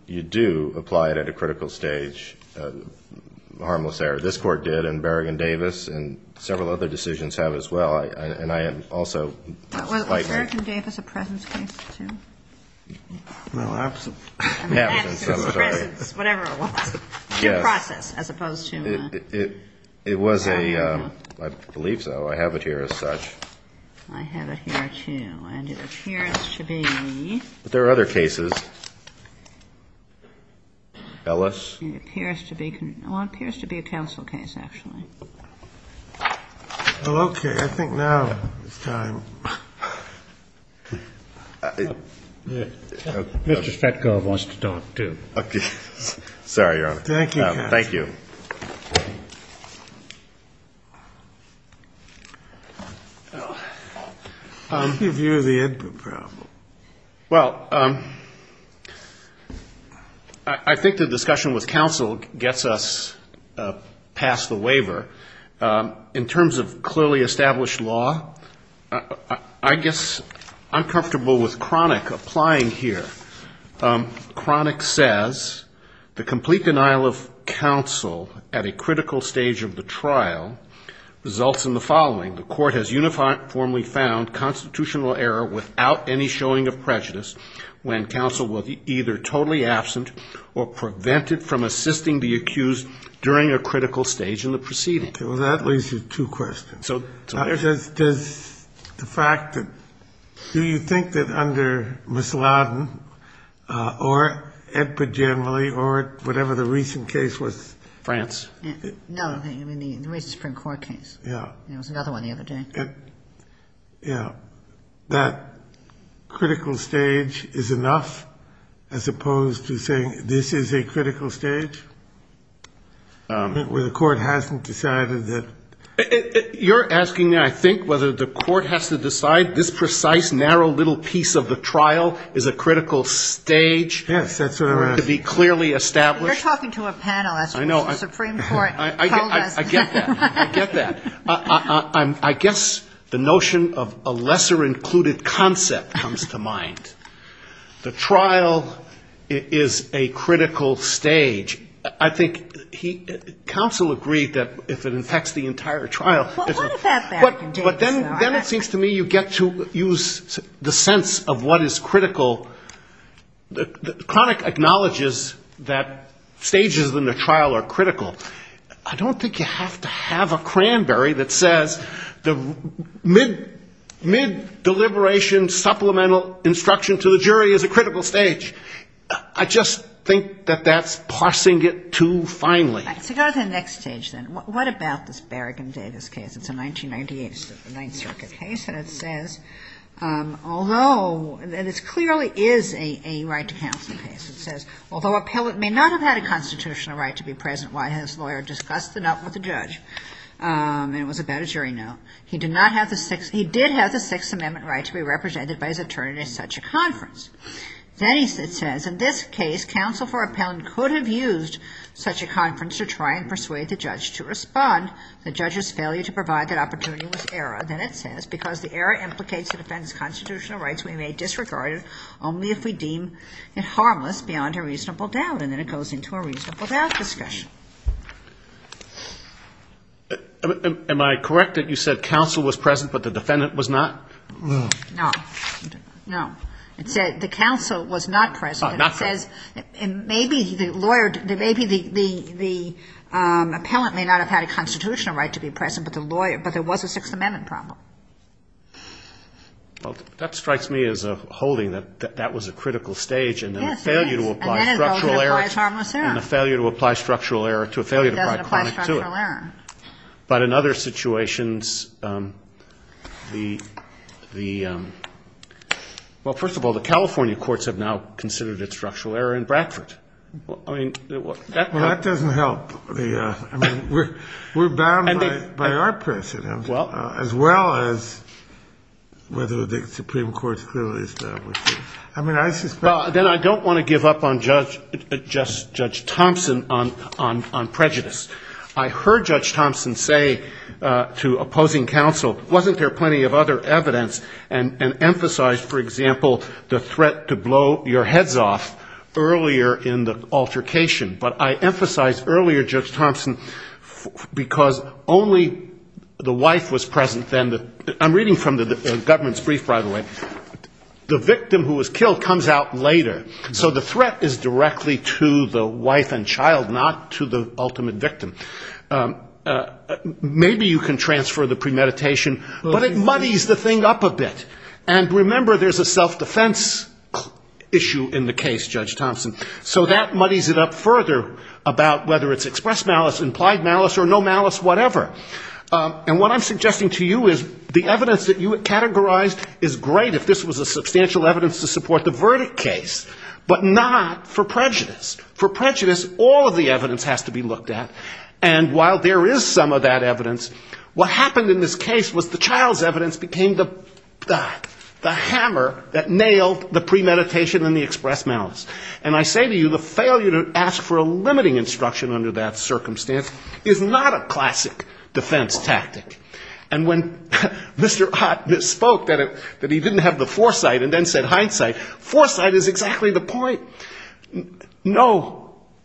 you do apply it at a critical stage, harmless error. This Court did, and Berrigan-Davis and several other decisions have as well, and I also like that. Was Berrigan-Davis a presence case, too? Well, absence. Absence, I'm sorry. I mean absence, presence, whatever it was. Yes. Due process as opposed to an absence. It was a, I believe so. I have it here as such. I have it here, too. And it appears to be. But there are other cases. Ellis. It appears to be a counsel case, actually. Okay. I think now is time. Mr. Stetkov wants to talk, too. Sorry, Your Honor. Thank you. Thank you. Thank you. What's your view of the input problem? Well, I think the discussion with counsel gets us past the waiver. In terms of clearly established law, I guess I'm comfortable with Cronick applying here. Cronick says the complete denial of counsel at a critical stage of the trial results in the following. The court has uniformly found constitutional error without any showing of prejudice when counsel was either totally absent or prevented from assisting the accused during a critical stage in the proceeding. Okay. Well, that leaves you two questions. Does the fact that do you think that under Musallam or Edward generally or whatever the recent case was? France. No, I mean the recent Supreme Court case. Yeah. There was another one the other day. Yeah. That critical stage is enough as opposed to saying this is a critical stage where the court hasn't decided that? You're asking me, I think, whether the court has to decide this precise narrow little piece of the trial is a critical stage. Yes, that's what I'm asking. To be clearly established. You're talking to a panelist. I know. The Supreme Court told us. I get that. I get that. I guess the notion of a lesser included concept comes to mind. The trial is a critical stage. I think counsel agreed that if it affects the entire trial. But then it seems to me you get to use the sense of what is critical. The chronic acknowledges that stages in the trial are critical. I don't think you have to have a cranberry that says the mid-deliberation supplemental instruction to the jury is a critical stage. I just think that that's passing it too finely. Let's go to the next stage then. What about this Berrigan Davis case? It's a 1998 Ninth Circuit case. And it says, although it clearly is a right to counsel case. It says, although a appellate may not have had a constitutional right to be present while his lawyer discussed the note with the judge, and it was about a jury note, he did have the Sixth Amendment right to be represented by his attorney at such a conference. Then it says, in this case, counsel for appellant could have used such a conference to try and persuade the judge to respond. The judge's failure to provide that opportunity was error. Then it says, because the error implicates the defendant's constitutional rights, we may disregard it only if we deem it harmless beyond a reasonable doubt. And then it goes into a reasonable doubt discussion. Am I correct that you said counsel was present but the defendant was not? No. No. It said the counsel was not present. Not present. And it says, maybe the lawyer, maybe the appellant may not have had a constitutional right to be present, but the lawyer, but there was a Sixth Amendment problem. Well, that strikes me as a holding that that was a critical stage. Yes, it is. And then it goes into harmless error. And the failure to apply structural error to a failure to apply chronic to it. It doesn't apply structural error. But in other situations, the, well, first of all, the California courts have now considered it structural error in Bradford. I mean, that doesn't help. I mean, we're bound by our precedent, as well as whether the Supreme Court's clearly established it. I mean, I suspect. Well, then I don't want to give up on Judge Thompson on prejudice. I heard Judge Thompson say to opposing counsel, wasn't there plenty of other evidence, and emphasized, for example, the threat to blow your heads off earlier in the altercation. But I emphasized earlier, Judge Thompson, because only the wife was present then. I'm reading from the government's brief, by the way. The victim who was killed comes out later. So the threat is directly to the wife and child, not to the ultimate victim. Maybe you can transfer the premeditation. But it muddies the thing up a bit. And remember, there's a self-defense issue in the case, Judge Thompson. So that muddies it up further about whether it's expressed malice, implied malice, or no malice, whatever. And what I'm suggesting to you is the evidence that you had categorized is great, if this was a substantial evidence to support the verdict case, but not for prejudice. For prejudice, all of the evidence has to be looked at. And while there is some of that evidence, what happened in this case was the child's evidence became the hammer that nailed the premeditation and the expressed malice. And I say to you, the failure to ask for a limiting instruction under that circumstance is not a classic defense tactic. And when Mr. Ott misspoke that he didn't have the foresight and then said hindsight, foresight is exactly the point. No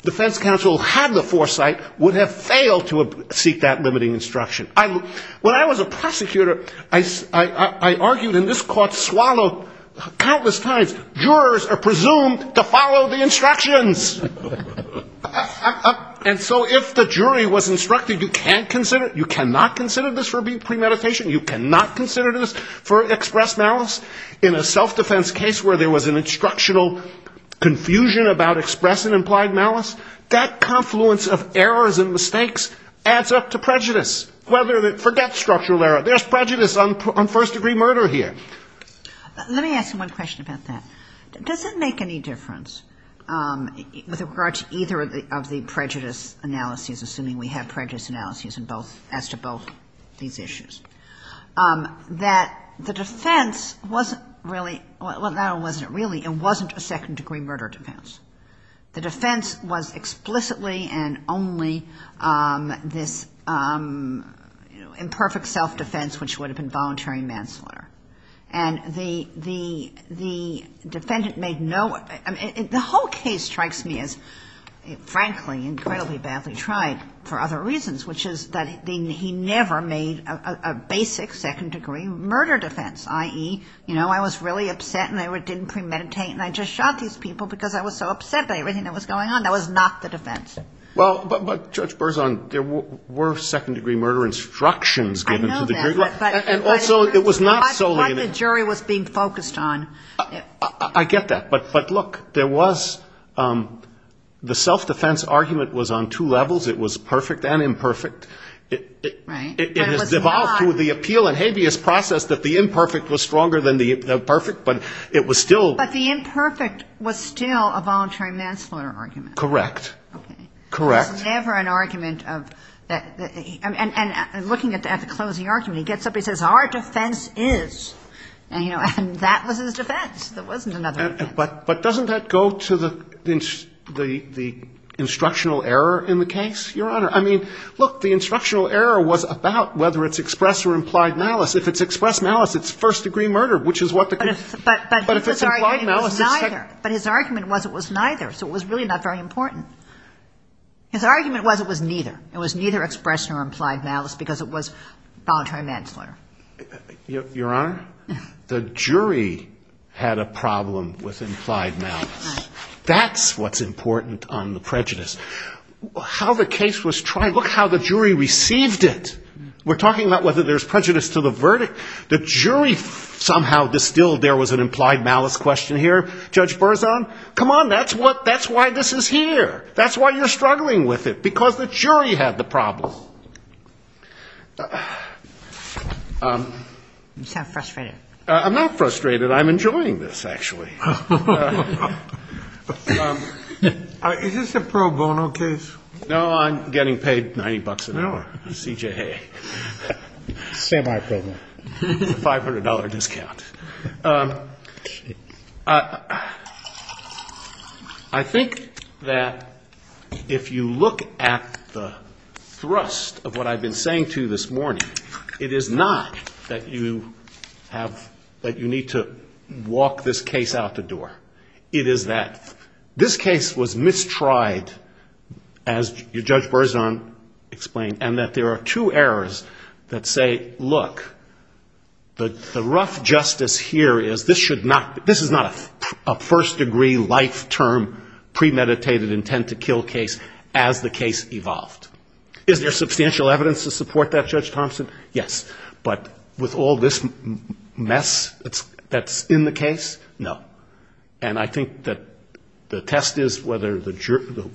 defense counsel who had the foresight would have failed to seek that limiting instruction. When I was a prosecutor, I argued, and this court swallowed countless times, jurors are presumed to follow the instructions. And so if the jury was instructed you can't consider it, you cannot consider this for premeditation, you cannot consider this for expressed malice, in a self-defense case where there was an instructional confusion about express and implied malice, that confluence of errors and mistakes adds up to prejudice. Forget structural error, there's prejudice on first-degree murder here. Let me ask you one question about that. Does it make any difference with regard to either of the prejudice analyses, assuming we have prejudice analyses as to both these issues, that the defense wasn't really, well, not it wasn't really, it wasn't a second-degree murder defense. The defense was explicitly and only this imperfect self-defense which would have been voluntary manslaughter. And the defendant made no, the whole case strikes me as frankly incredibly badly tried for other reasons, which is that he never made a basic second-degree murder defense, i.e., you know, I was really upset and I didn't premeditate and I just shot these people because I was so upset. Everything that was going on, that was not the defense. Well, but Judge Berzon, there were second-degree murder instructions given to the jury. I know that, but I thought the jury was being focused on it. I get that, but look, there was, the self-defense argument was on two levels, it was perfect and imperfect. Right. It was devolved through the appeal and habeas process that the imperfect was stronger than the perfect, but it was still. But the imperfect was still a voluntary manslaughter argument. Correct. It was never an argument of, and looking at the closing argument, he gets up, he says, our defense is, and that was his defense, there wasn't another defense. But doesn't that go to the instructional error in the case, Your Honor? I mean, look, the instructional error was about whether it's expressed or implied malice. If it's expressed malice, it's first-degree murder, which is what the. But his argument was it was neither, so it was really not very important. His argument was it was neither, it was neither expressed nor implied malice because it was voluntary manslaughter. Your Honor, the jury had a problem with implied malice. That's what's important on the prejudice. How the case was tried, look how the jury received it. We're talking about whether there's prejudice to the verdict. The jury somehow distilled there was an implied malice question here. Judge Berzon, come on, that's why this is here. That's why you're struggling with it, because the jury had the problem. I'm not frustrated. I'm enjoying this, actually. Is this a pro bono case? No, I'm getting paid $90 an hour. CJA. $500 discount. I think that if you look at the thrust of what I've been saying to you this morning, it is not that you have, that you need to walk this case out the door. It is that this case was mistried, as Judge Berzon explained, and that there are two errors that say, look, the rough justice here is this should not, this is not a first degree life term premeditated intent to kill case as the case evolved. Is there substantial evidence to support that, Judge Thompson? Yes. But with all this mess that's in the case, no. And I think that the test is whether the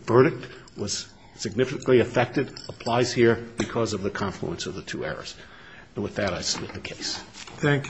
verdict was significantly affected, applies here, because of the confluence of the two errors. And with that, I submit the case. Thank you, counsel.